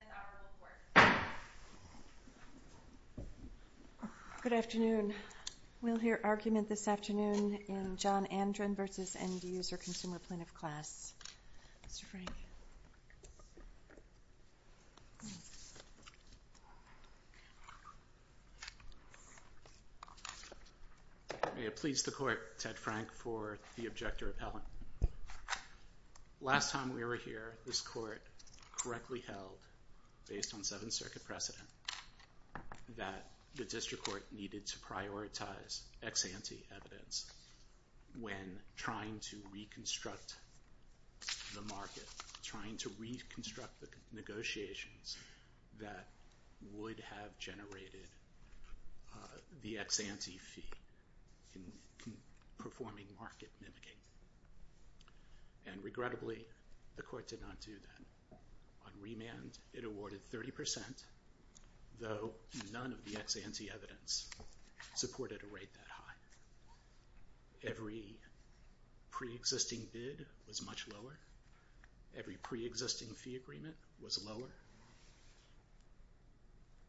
Mr. Frank. May it please the Court, Ted Frank, for the Object to Repellent. Last time we were here, this Court correctly held, based on Seventh Circuit precedent, that the District Court needed to prioritize ex-ante evidence when trying to reconstruct the market, trying to reconstruct the negotiations that would have generated the ex-ante fee in performing market mimicking. And regrettably, the Court did not do that. On remand, it awarded 30%, though none of the ex-ante evidence supported a rate that high. Every pre-existing bid was much lower, every pre-existing fee agreement was lower,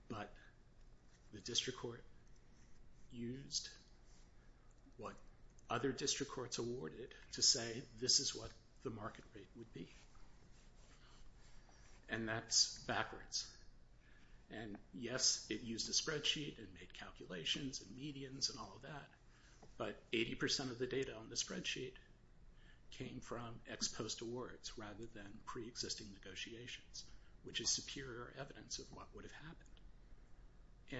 but the District Court used what other District Courts awarded to say, this is what the market rate would be. And that's backwards. And yes, it used a spreadsheet and made calculations and medians and all of that, but 80% of the data on the spreadsheet came from ex-post awards rather than pre-existing negotiations, which is superior evidence of what would have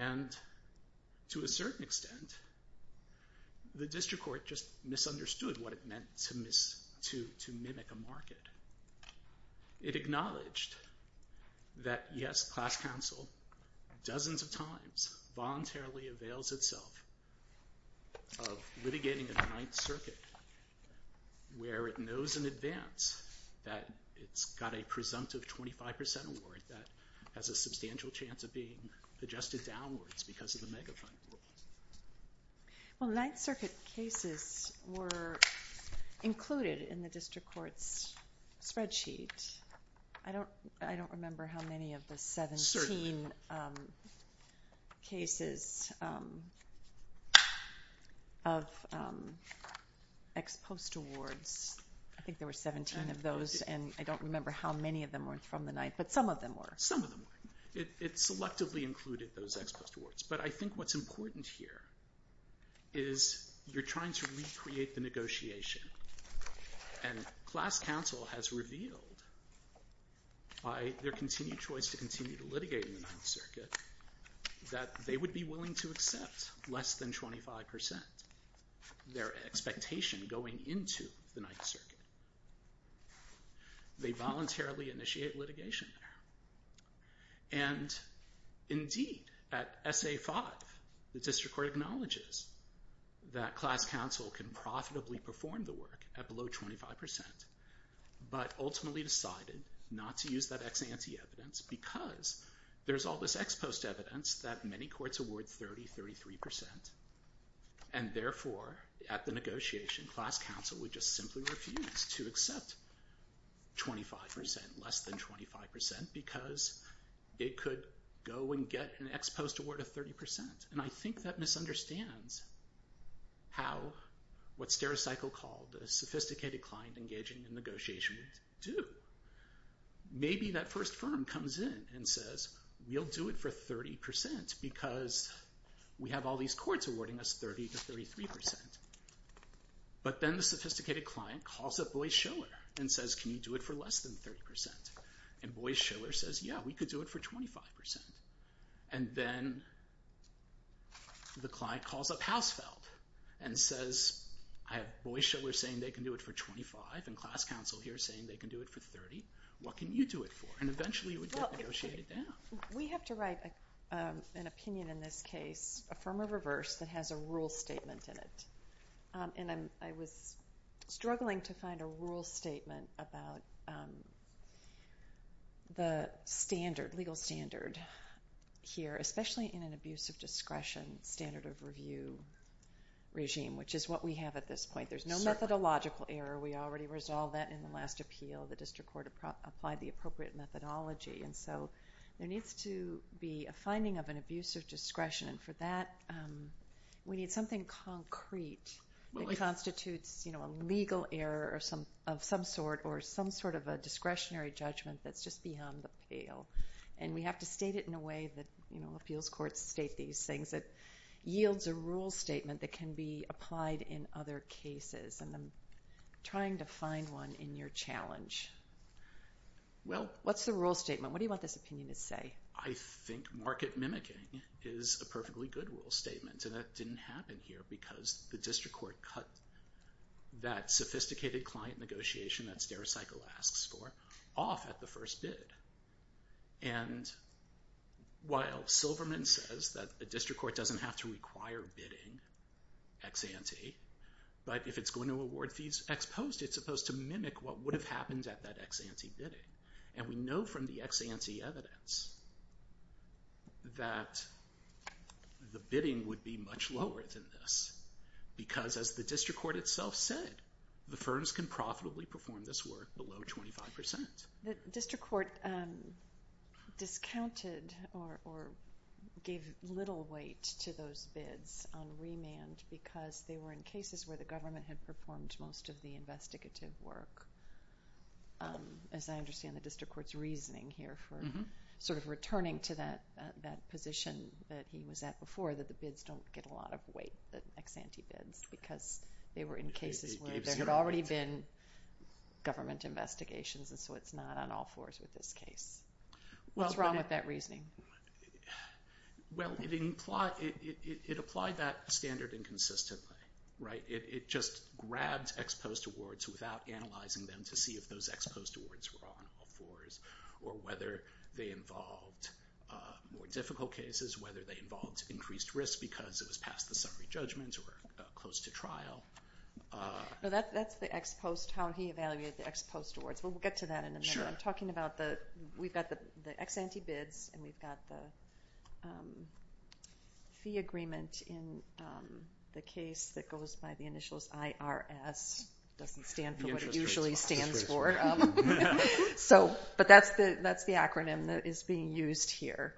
happened. And to a certain extent, the District Court just misunderstood what it meant to mimic a market. It acknowledged that, yes, class counsel, dozens of times, voluntarily avails itself of litigating a Ninth Circuit where it knows in advance that it's got a presumptive 25% award that has a substantial chance of being adjusted downwards because of the megafund rule. Well, Ninth Circuit cases were included in the District Court's spreadsheet. I don't remember how many of the 17 cases of ex-post awards, I think there were 17 of those, and I don't remember how many of them were from the Ninth, but some of them were. Some of them were. It selectively included those ex-post awards. But I think what's important here is you're trying to recreate the negotiation. And class counsel has revealed by their continued choice to continue to litigate in the Ninth Circuit that they would be willing to accept less than 25%, their expectation going into the Ninth Circuit. They voluntarily initiate litigation there. And indeed, at SA-5, the District Court acknowledges that class counsel can profitably perform the work at below 25%, but ultimately decided not to use that ex-ante evidence because there's all this ex-post evidence that many courts award 30, 33%. And therefore, at the negotiation, class counsel would just simply refuse to accept 25%, less than 25%, because it could go and get an ex-post award of 30%. And I think that misunderstands how, what Stericycle called a sophisticated client engaging in this negotiation. And it says, we have all these courts awarding us 30 to 33%. But then the sophisticated client calls up Boyce-Schiller and says, can you do it for less than 30%? And Boyce-Schiller says, yeah, we could do it for 25%. And then the client calls up Hausfeld and says, I have Boyce-Schiller saying they can do it for 25 and class counsel here saying they can do it for 30. What can you do it for? And eventually you would get negotiated down. We have to write an opinion in this case, affirm or reverse, that has a rule statement in it. And I was struggling to find a rule statement about the standard, legal standard here, especially in an abuse of discretion standard of review regime, which is what we have at this point. There's no methodological error. We already resolved that in the last appeal. The district court applied the appropriate methodology. And so there needs to be a finding of an abuse of discretion. And for that, we need something concrete that constitutes a legal error of some sort or some sort of a discretionary judgment that's just beyond the appeal. And we have to state it in a way that appeals courts state these things that yields a rule statement that can be applied in other cases. And I'm trying to find one in your challenge. What's the rule statement? What do you want this opinion to say? I think market mimicking is a perfectly good rule statement. And that didn't happen here because the district court cut that sophisticated client negotiation that StereoCycle asks for off at the first bid. And while Silverman says that the district court doesn't have to require bidding ex-ante, but if it's going to award fees ex-post, it's supposed to mimic what would have happened at that ex-ante bidding. And we know from the ex-ante evidence that the bidding would be much lower than this. Because as the district court itself said, the firms can profitably perform this work below 25%. The district court discounted or gave little weight to those bids on remand because they were in cases where the government had performed most of the investigative work. As I understand the district court's reasoning here for sort of returning to that position that he was at before, that the bids don't get a lot of weight, the ex-ante bids, because they were in cases where there had already been government investigations and so it's not on all fours with this case. What's wrong with that reasoning? Well, it applied that standard inconsistently. It just grabbed ex-post awards without analyzing them to see if those ex-post awards were on all fours or whether they involved more difficult cases, whether they involved increased risk because it was past the summary judgment or close to trial. No, that's the ex-post, how he evaluated the ex-post awards. We'll get to that in a minute. I'm talking about we've got the ex-ante bids and we've got the fee agreement in the case that goes by the initials IRS. It doesn't stand for what it usually stands for. But that's the acronym that is being used here.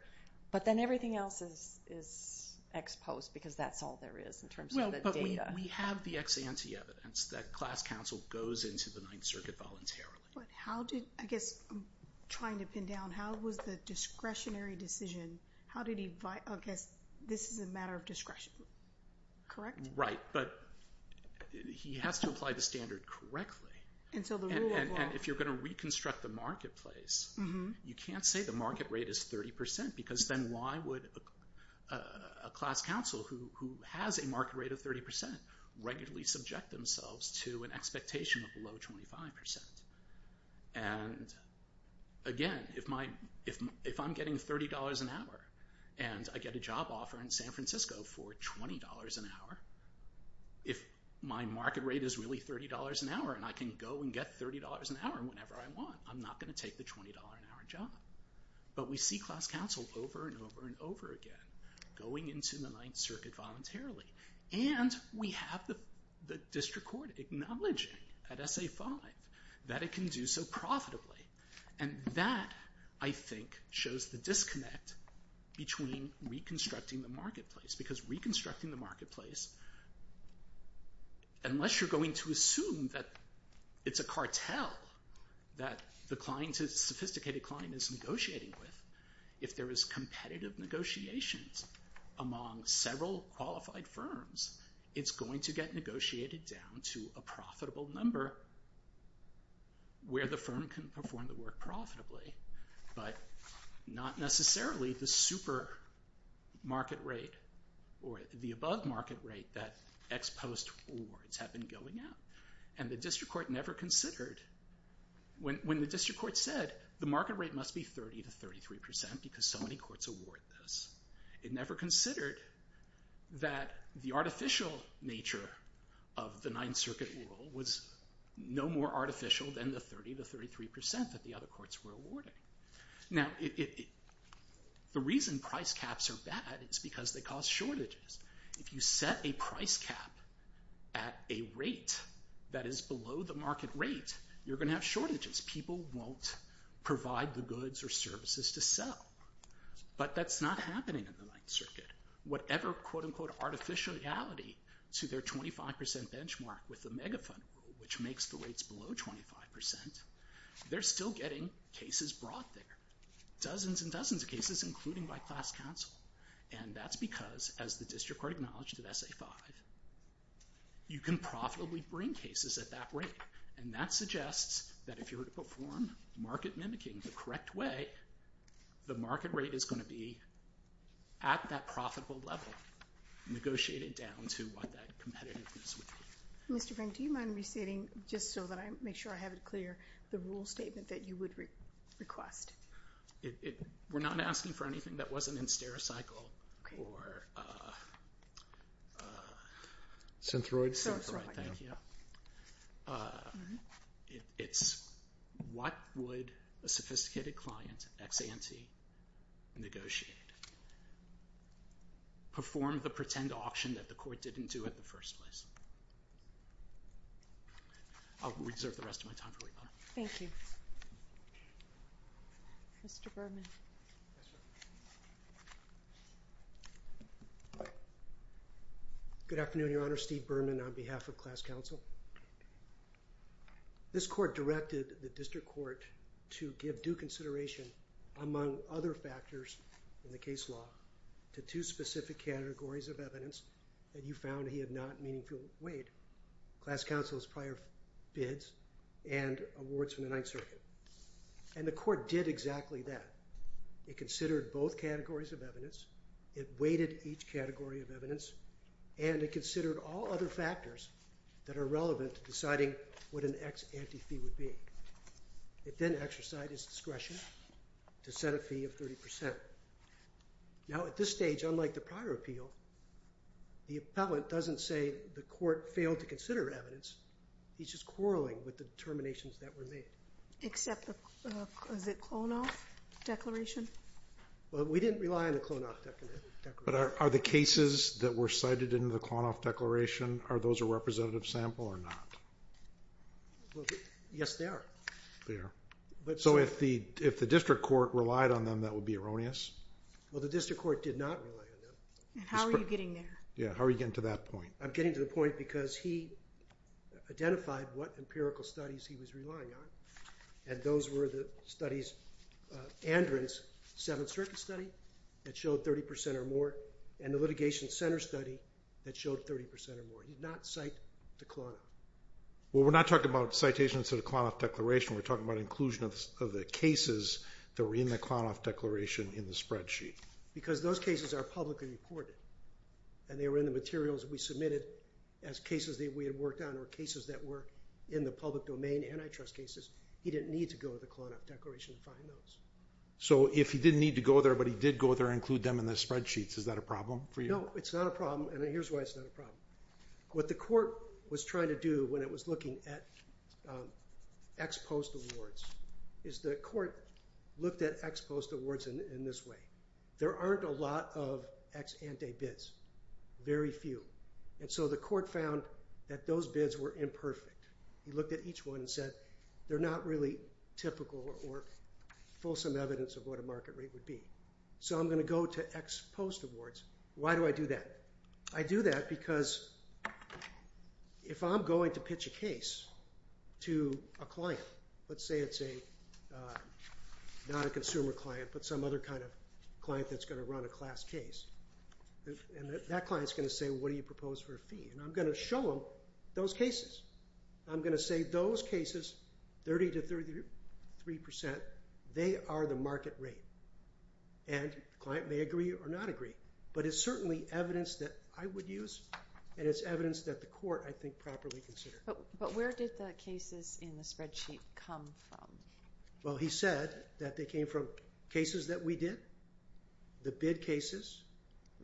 But then everything else is ex-post because that's all there is in terms of the data. We have the ex-ante evidence that class counsel goes into the Ninth Circuit voluntarily. But how did, I guess I'm trying to pin down, how was the discretionary decision, how did he, I guess this is a matter of discretion, correct? Right, but he has to apply the standard correctly. And so the rule of law... And if you're going to reconstruct the marketplace, you can't say the market rate is 30% because then why would a class counsel who has a market rate of 30% regularly subject themselves to an expectation of below 25%? And again, if I'm getting $30 an hour and I get a job offer in San Francisco for $20 an hour, if my market rate is really $30 an hour and I can go and get $30 an hour whenever I want, I'm not going to take the $20 an hour job. But we see class counsel over and over and over again going into the Ninth Circuit voluntarily. And we have the district court acknowledging at SA-5 that it can do so profitably. And that, I think, shows the disconnect between reconstructing the marketplace. Because reconstructing the marketplace, unless you're going to assume that it's a cartel that the sophisticated client is negotiating with, if there is competitive negotiations among several qualified firms, it's going to get negotiated down to a profitable number where the firm can perform the work profitably. But not necessarily the super market rate or the above market rate that ex post awards have been going at. And the district court never considered... When the district court said, the market rate must be 30% to 33% because so many courts award this, it never considered that the artificial nature of the Ninth Circuit rule was no more artificial than the 30% to 33% that the other courts were awarding. Now, the reason price caps are bad is because they cause shortages. If you set a price cap at a rate that is below the market rate, you're going to have shortages. People won't provide the goods or services to sell. But that's not happening in the Ninth Circuit. Whatever quote-unquote artificial reality to their 25% benchmark with the megafund rule, which makes the rates below 25%, they're still getting cases brought there. Dozens and dozens of cases, including by class counsel. And that's because, as the district court acknowledged at SA-5, you can profitably bring cases at that rate. And that suggests that if you were to perform market mimicking the correct way, the market rate is going to be at that profitable level, negotiated down to what that competitiveness would be. Mr. Frank, do you mind reciting, just so that I make sure I have it clear, the rule statement that you would request? We're not asking for anything that wasn't in Stereocycle or... Synthroid? Synthroid, thank you. Yeah. It's... What would a sophisticated client, ex ante, negotiate? Perform the pretend auction that the court didn't do in the first place. I'll reserve the rest of my time. Thank you. Mr. Berman. Good afternoon, Your Honor. Steve Berman on behalf of class counsel. This court directed the district court to give due consideration, among other factors in the case law, to two specific categories of evidence that you found he had not meaningfully weighed. Class counsel's prior bids and awards from the Ninth Circuit. And the court did exactly that. It considered both categories of evidence, it weighted each category of evidence, and it considered all other factors that are relevant to deciding what an ex ante fee would be. It then exercised its discretion to set a fee of 30%. Now, at this stage, unlike the prior appeal, the appellant doesn't say the court failed to consider evidence. He's just quarrelling with the determinations that were made. Except the... Is it Klonoff declaration? Well, we didn't rely on the Klonoff declaration. But are the cases that were cited in the Klonoff declaration, are those a representative sample or not? Well, yes, they are. They are. So if the district court relied on them, that would be erroneous? Well, the district court did not rely on them. How are you getting there? Yeah, how are you getting to that point? I'm getting to the point because he identified what empirical studies he was relying on, and those were the studies... Andron's Seventh Circuit study that showed 30% or more, and the litigation centre study that showed 30% or more. He did not cite the Klonoff. Well, we're not talking about citations of the Klonoff declaration. We're talking about inclusion of the cases that were in the Klonoff declaration in the spreadsheet. Because those cases are publicly reported, and they were in the materials we submitted as cases that we had worked on or cases that were in the public domain antitrust cases. He didn't need to go to the Klonoff declaration to find those. So if he didn't need to go there, but he did go there and include them in the spreadsheets, is that a problem for you? No, it's not a problem, and here's why it's not a problem. What the court was trying to do when it was looking at ex-post awards is the court looked at ex-post awards in this way. There aren't a lot of ex-ante bids. Very few. And so the court found that those bids were imperfect. He looked at each one and said, they're not really typical or fulsome evidence of what a market rate would be. So I'm gonna go to ex-post awards. Why do I do that? I do that because if I'm going to pitch a case to a client, let's say it's a, uh, not a consumer client, but some other kind of client that's gonna run a class case, and that client's gonna say, what do you propose for a fee? And I'm gonna show them those cases. I'm gonna say those cases, 30% to 33%, they are the market rate, and the client may agree or not agree. But it's certainly evidence that I would use, and it's evidence that the court, I think, properly considered. But where did the cases in the spreadsheet come from? Well, he said that they came from cases that we did, the bid cases,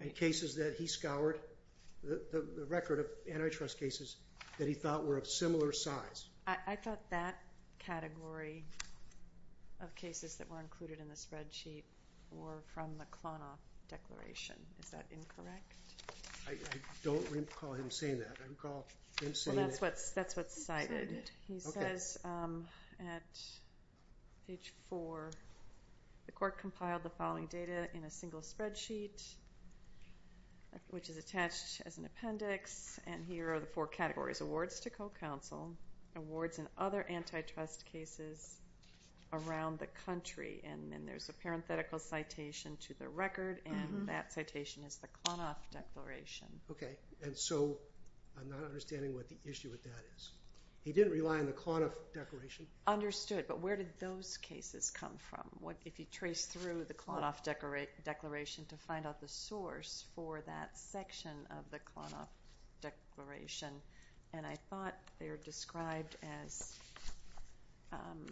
and cases that he scoured, the record of antitrust cases that he thought were of similar size. I-I thought that category of cases that were included in the spreadsheet were from the Klonoff declaration. Is that incorrect? I-I don't recall him saying that. I recall him saying... Well, that's what's cited. He says, um, at page 4, the court compiled the following data in a single spreadsheet, which is attached as an appendix, and here are the four categories. Awards to co-counsel, awards in other antitrust cases around the country, and then there's a parenthetical citation to the record, and that citation is the Klonoff declaration. Okay, and so I'm not understanding what the issue with that is. He didn't rely on the Klonoff declaration? Understood, but where did those cases come from? If you trace through the Klonoff declaration to find out the source for that section of the Klonoff declaration, and I thought they were described as, um,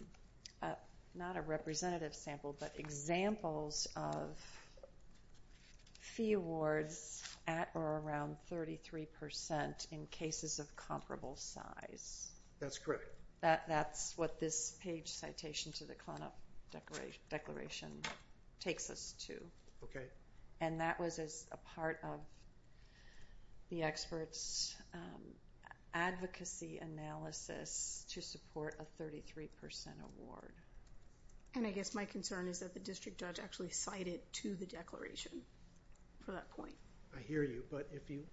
uh, not a representative sample, but examples of fee awards at or around 33% in cases of comparable size. That's correct. That-that's what this page citation to the Klonoff declaration takes us to. Okay. And that was as a part of the experts' advocacy analysis to support a 33% award. And I guess my concern is that the district judge actually cited to the declaration for that point. I hear you, but if you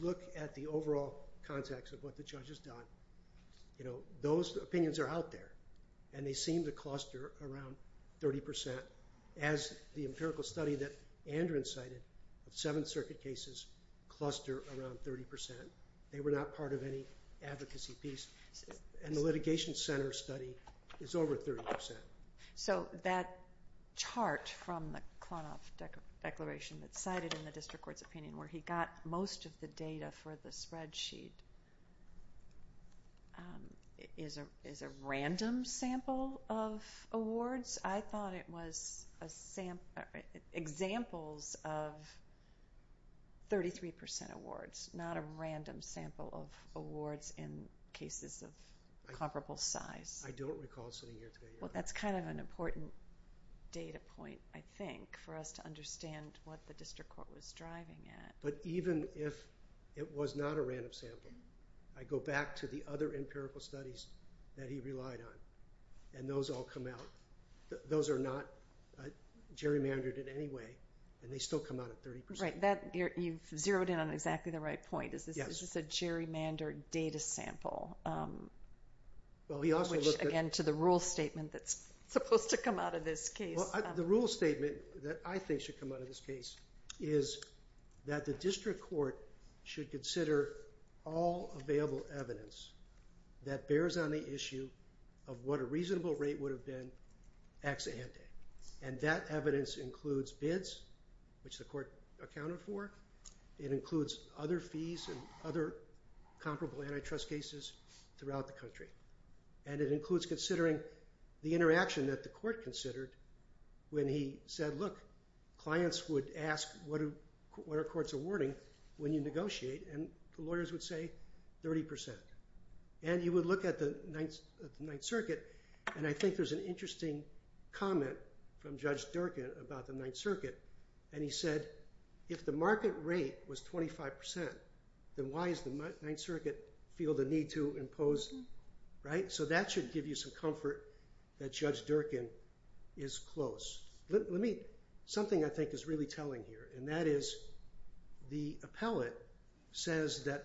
look at the overall context of what the judge has done, you know, those opinions are out there, and they seem to cluster around 30% as the empirical study that Andrew incited. The Seventh Circuit cases cluster around 30%. They were not part of any advocacy piece. And the litigation center study is over 30%. So that chart from the Klonoff declaration that's cited in the district court's opinion where he got most of the data for the spreadsheet, um, is a-is a random sample of awards? I thought it was a sample... examples of 33% awards, not a random sample of awards in cases of comparable size. I don't recall sitting here today. Well, that's kind of an important data point, I think, for us to understand what the district court was driving at. But even if it was not a random sample, I go back to the other empirical studies that he relied on, and those all come out. Those are not gerrymandered in any way, and they still come out at 30%. Right, that... you've zeroed in on exactly the right point. Is this a gerrymandered data sample? Um, which, again, to the rule statement that's supposed to come out of this case. Well, the rule statement that I think should come out of this case is that the district court should consider all available evidence that bears on the issue of what a reasonable rate would have been ex ante. And that evidence includes bids, which the court accounted for. It includes other fees and other comparable antitrust cases throughout the country. And it includes considering the interaction that the court considered when he said, look, clients would ask, what are courts awarding when you negotiate? And the lawyers would say, 30%. And you would look at the Ninth Circuit, and I think there's an interesting comment from Judge Durkin about the Ninth Circuit. And he said, if the market rate was 25%, then why does the Ninth Circuit feel the need to impose...? Right? So that should give you some comfort that Judge Durkin is close. Let me... something I think is really telling here, and that is the appellate says that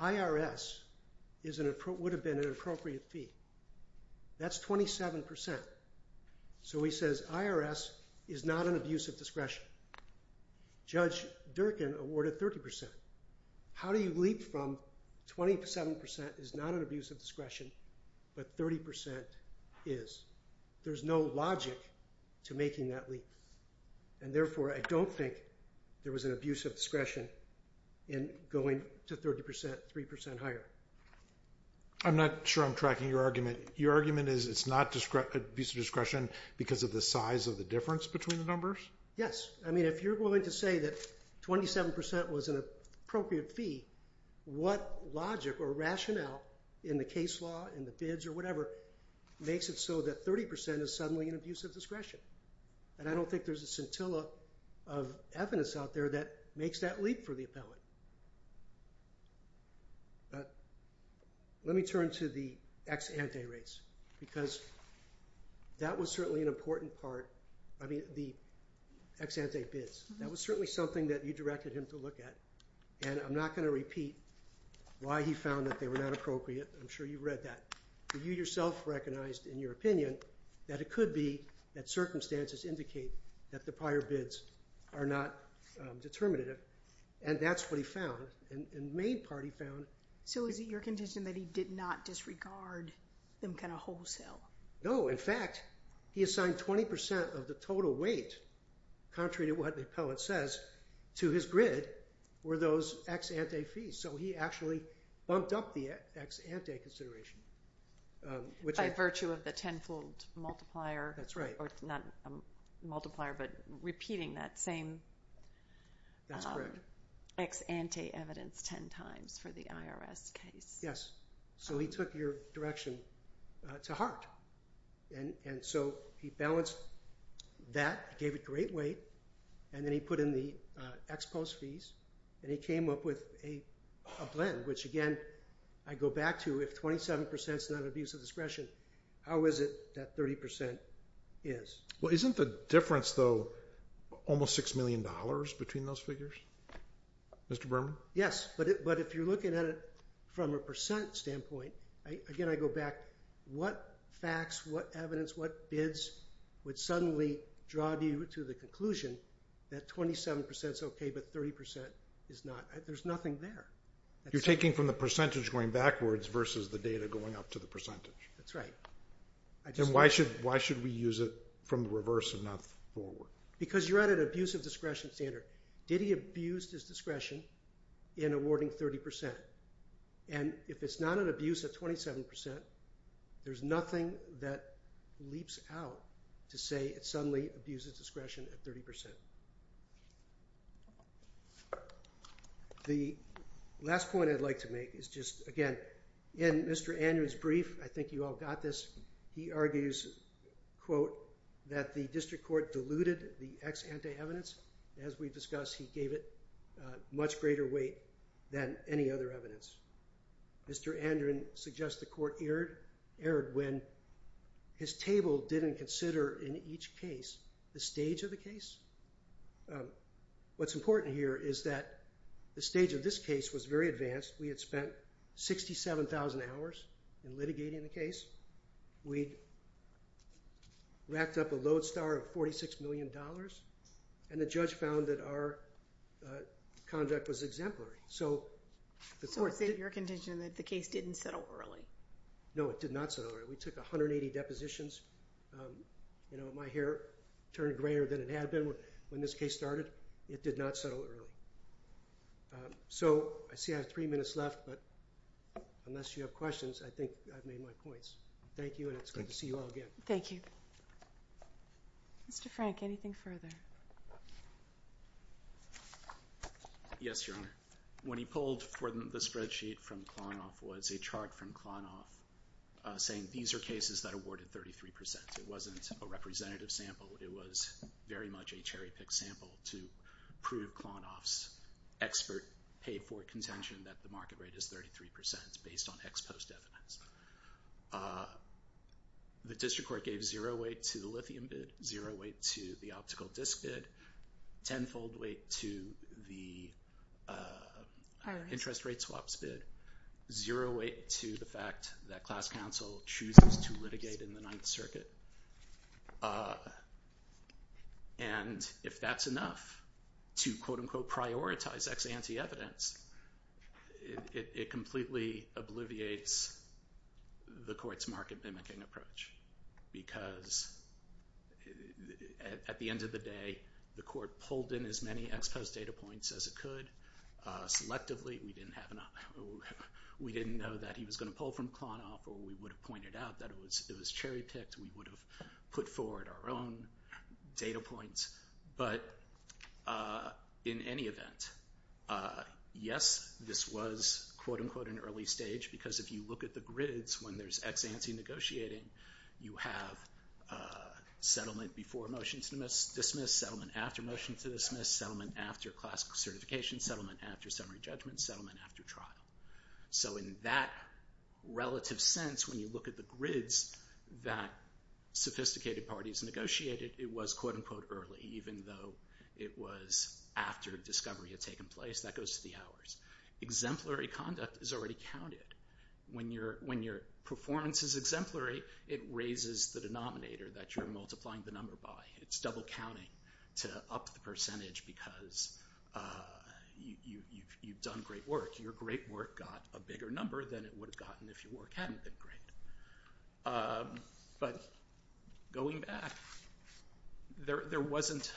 IRS is an... would have been an appropriate fee. That's 27%. So he says, IRS is not an abuse of discretion. Judge Durkin awarded 30%. How do you leap from... 27% is not an abuse of discretion, but 30% is. There's no logic to making that leap. And therefore, I don't think there was an abuse of discretion in going to 30%, 3% higher. I'm not sure I'm tracking your argument. Your argument is it's not abuse of discretion because of the size of the difference between the numbers? Yes. I mean, if you're willing to say that 27% was an appropriate fee, what logic or rationale in the case law, in the bids or whatever, makes it so that 30% is suddenly an abuse of discretion? And I don't think there's a scintilla of evidence out there that makes that leap for the appellate. But let me turn to the ex ante rates, because that was certainly an important part. I mean, the ex ante bids. That was certainly something that you directed him to look at. And I'm not gonna repeat why he found that they were not appropriate. I'm sure you've read that. But you yourself recognized in your opinion that it could be that circumstances indicate that the prior bids are not determinative. And that's what he found. And the main part he found... So is it your contention that he did not disregard them kind of wholesale? No, in fact, he assigned 20% of the total weight, contrary to what the appellate says, to his grid were those ex ante fees. So he actually bumped up the ex ante consideration. By virtue of the tenfold multiplier? That's right. Not a multiplier, but repeating that same... That's correct. ...ex ante evidence ten times for the IRS case. Yes, so he took your direction to heart. And so he balanced that, gave a great weight, and then he put in the ex post fees, and he came up with a blend, which, again, I go back to, if 27% is not an abuse of discretion, how is it that 30% is? Well, isn't the difference, though, almost $6 million between those figures, Mr. Berman? Yes, but if you're looking at it from a percent standpoint, again, I go back, what facts, what evidence, what bids would suddenly draw you to the conclusion that 27% is okay, but 30% is not? There's nothing there. You're taking from the percentage going backwards versus the data going up to the percentage. That's right. Then why should we use it from the reverse and not forward? Because you're at an abuse of discretion standard. Did he abuse his discretion in awarding 30%? And if it's not an abuse at 27%, there's nothing that leaps out to say it suddenly abuses discretion at 30%. The last point I'd like to make is just, again, in Mr. Andren's brief, I think you all got this, he argues, quote, that the district court diluted the ex ante evidence. As we've discussed, he gave it a much greater weight than any other evidence. Mr. Andren suggests the court erred when his table didn't consider in each case the stage of the case. What's important here is that the stage of this case was very advanced. We had spent 67,000 hours in litigating the case. We'd racked up a load star of $46 million, and the judge found that our contract was exemplary. So the court... So it's in your contention that the case didn't settle early. No, it did not settle early. We took 180 depositions. My hair turned grayer than it had been when this case started. It did not settle early. So I see I have three minutes left, but unless you have questions, I think I've made my points. Thank you, and it's good to see you all again. Thank you. Mr. Frank, anything further? Yes, Your Honor. When he pulled for the spreadsheet from Klonoff, it was a chart from Klonoff saying these are cases that awarded 33%. It wasn't a representative sample. It was very much a cherry-picked sample to prove Klonoff's expert paid-for contention that the market rate is 33% based on ex post evidence. The district court gave zero weight to the lithium bid, zero weight to the optical disk bid, tenfold weight to the interest rate swaps bid, zero weight to the fact that class counsel chooses to litigate in the Ninth Circuit. And if that's enough to quote-unquote prioritize ex ante evidence, it completely obliviates the court's market mimicking approach, because at the end of the day, the court pulled in as many ex post data points as it could. Selectively, we didn't know that he was going to pull from Klonoff, or we would have pointed out that it was cherry-picked, we would have put forward our own data points. But in any event, yes, this was quote-unquote an early stage, because if you look at the grids when there's ex ante negotiating, you have settlement before motion to dismiss, settlement after motion to dismiss, settlement after classical certification, settlement after summary judgment, settlement after trial. So in that relative sense, when you look at the grids that sophisticated parties negotiated, it was quote-unquote early, even though it was after discovery had taken place. That goes to the hours. Exemplary conduct is already counted. When your performance is exemplary, it raises the denominator that you're multiplying the number by. It's double counting to up the percentage, because you've done great work. Your great work got a bigger number than it would have gotten if your work hadn't been great. But going back, there wasn't...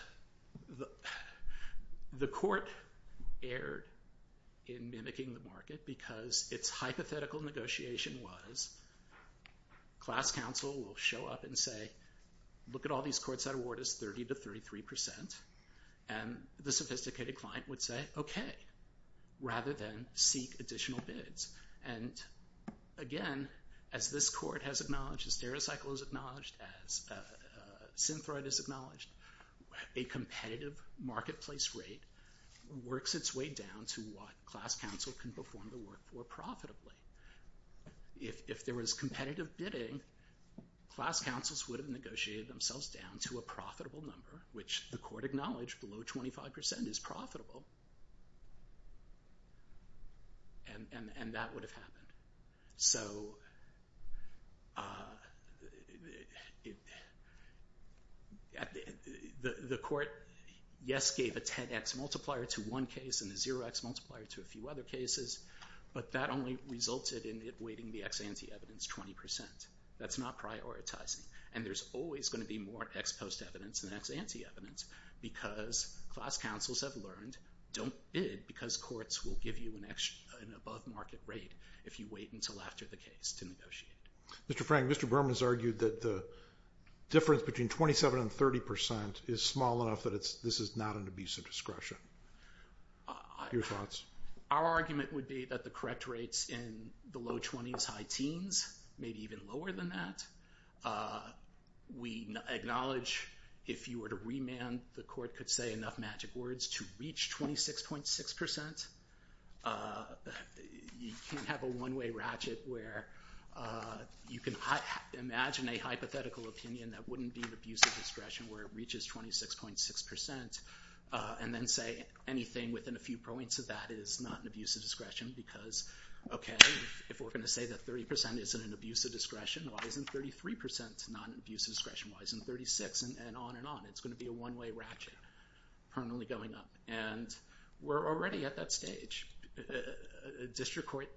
The court erred in mimicking the market, because its hypothetical negotiation was class counsel will show up and say, look at all these courts that award us 30% to 33%, and the sophisticated client would say, okay, rather than seek additional bids. And again, as this court has acknowledged, as Derecycle has acknowledged, as Synthroid has acknowledged, a competitive marketplace rate works its way down to what class counsel can perform the work for profitably. If there was competitive bidding, class counsels would have negotiated themselves down to a profitable number, which the court acknowledged below 25% is profitable. And that would have happened. So... The court, yes, gave a 10x multiplier to one case and a 0x multiplier to a few other cases, but that only resulted in it weighting the ex ante evidence 20%. That's not prioritizing. And there's always gonna be more ex post evidence than ex ante evidence, because class counsels have learned don't bid because courts will give you an above-market rate if you wait until after the case to negotiate. Mr. Frank, Mr. Berman has argued that the difference between 27% and 30% is small enough that this is not an abuse of discretion. Your thoughts? Our argument would be that the correct rates in the low 20s, high teens, maybe even lower than that. We acknowledge if you were to remand, the court could say enough magic words to reach 26.6%. You can't have a one-way ratchet where you can imagine a hypothetical opinion that wouldn't be an abuse of discretion where it reaches 26.6% and then say anything within a few points of that is not an abuse of discretion, because, okay, if we're gonna say that 30% isn't an abuse of discretion, why isn't 33% not an abuse of discretion? Why isn't 36%? And on and on. It's gonna be a one-way ratchet permanently going up. And we're already at that stage. A district court...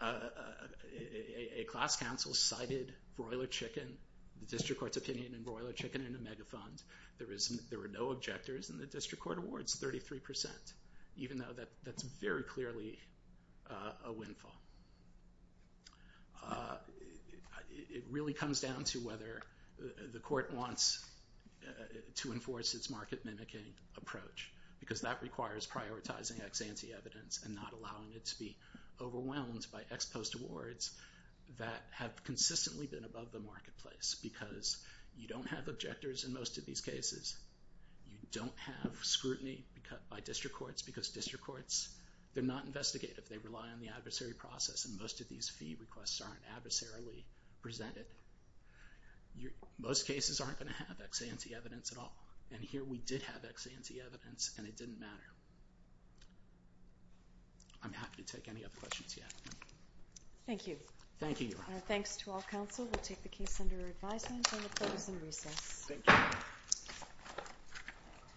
a class counsel cited Broiler Chicken, the district court's opinion in Broiler Chicken, in a megafund. There were no objectors in the district court awards, 33%, even though that's very clearly a windfall. Uh...it really comes down to whether the court wants to enforce its market-mimicking approach, because that requires prioritizing ex-ante evidence and not allowing it to be overwhelmed by ex-post awards that have consistently been above the marketplace, because you don't have objectors in most of these cases. You don't have scrutiny by district courts, because district courts, they're not investigative. If they rely on the adversary process and most of these fee requests aren't adversarially presented, most cases aren't gonna have ex-ante evidence at all. And here we did have ex-ante evidence, and it didn't matter. I'm happy to take any other questions you have. Thank you. Thank you. And our thanks to all counsel. We'll take the case under advisement and we'll close in recess.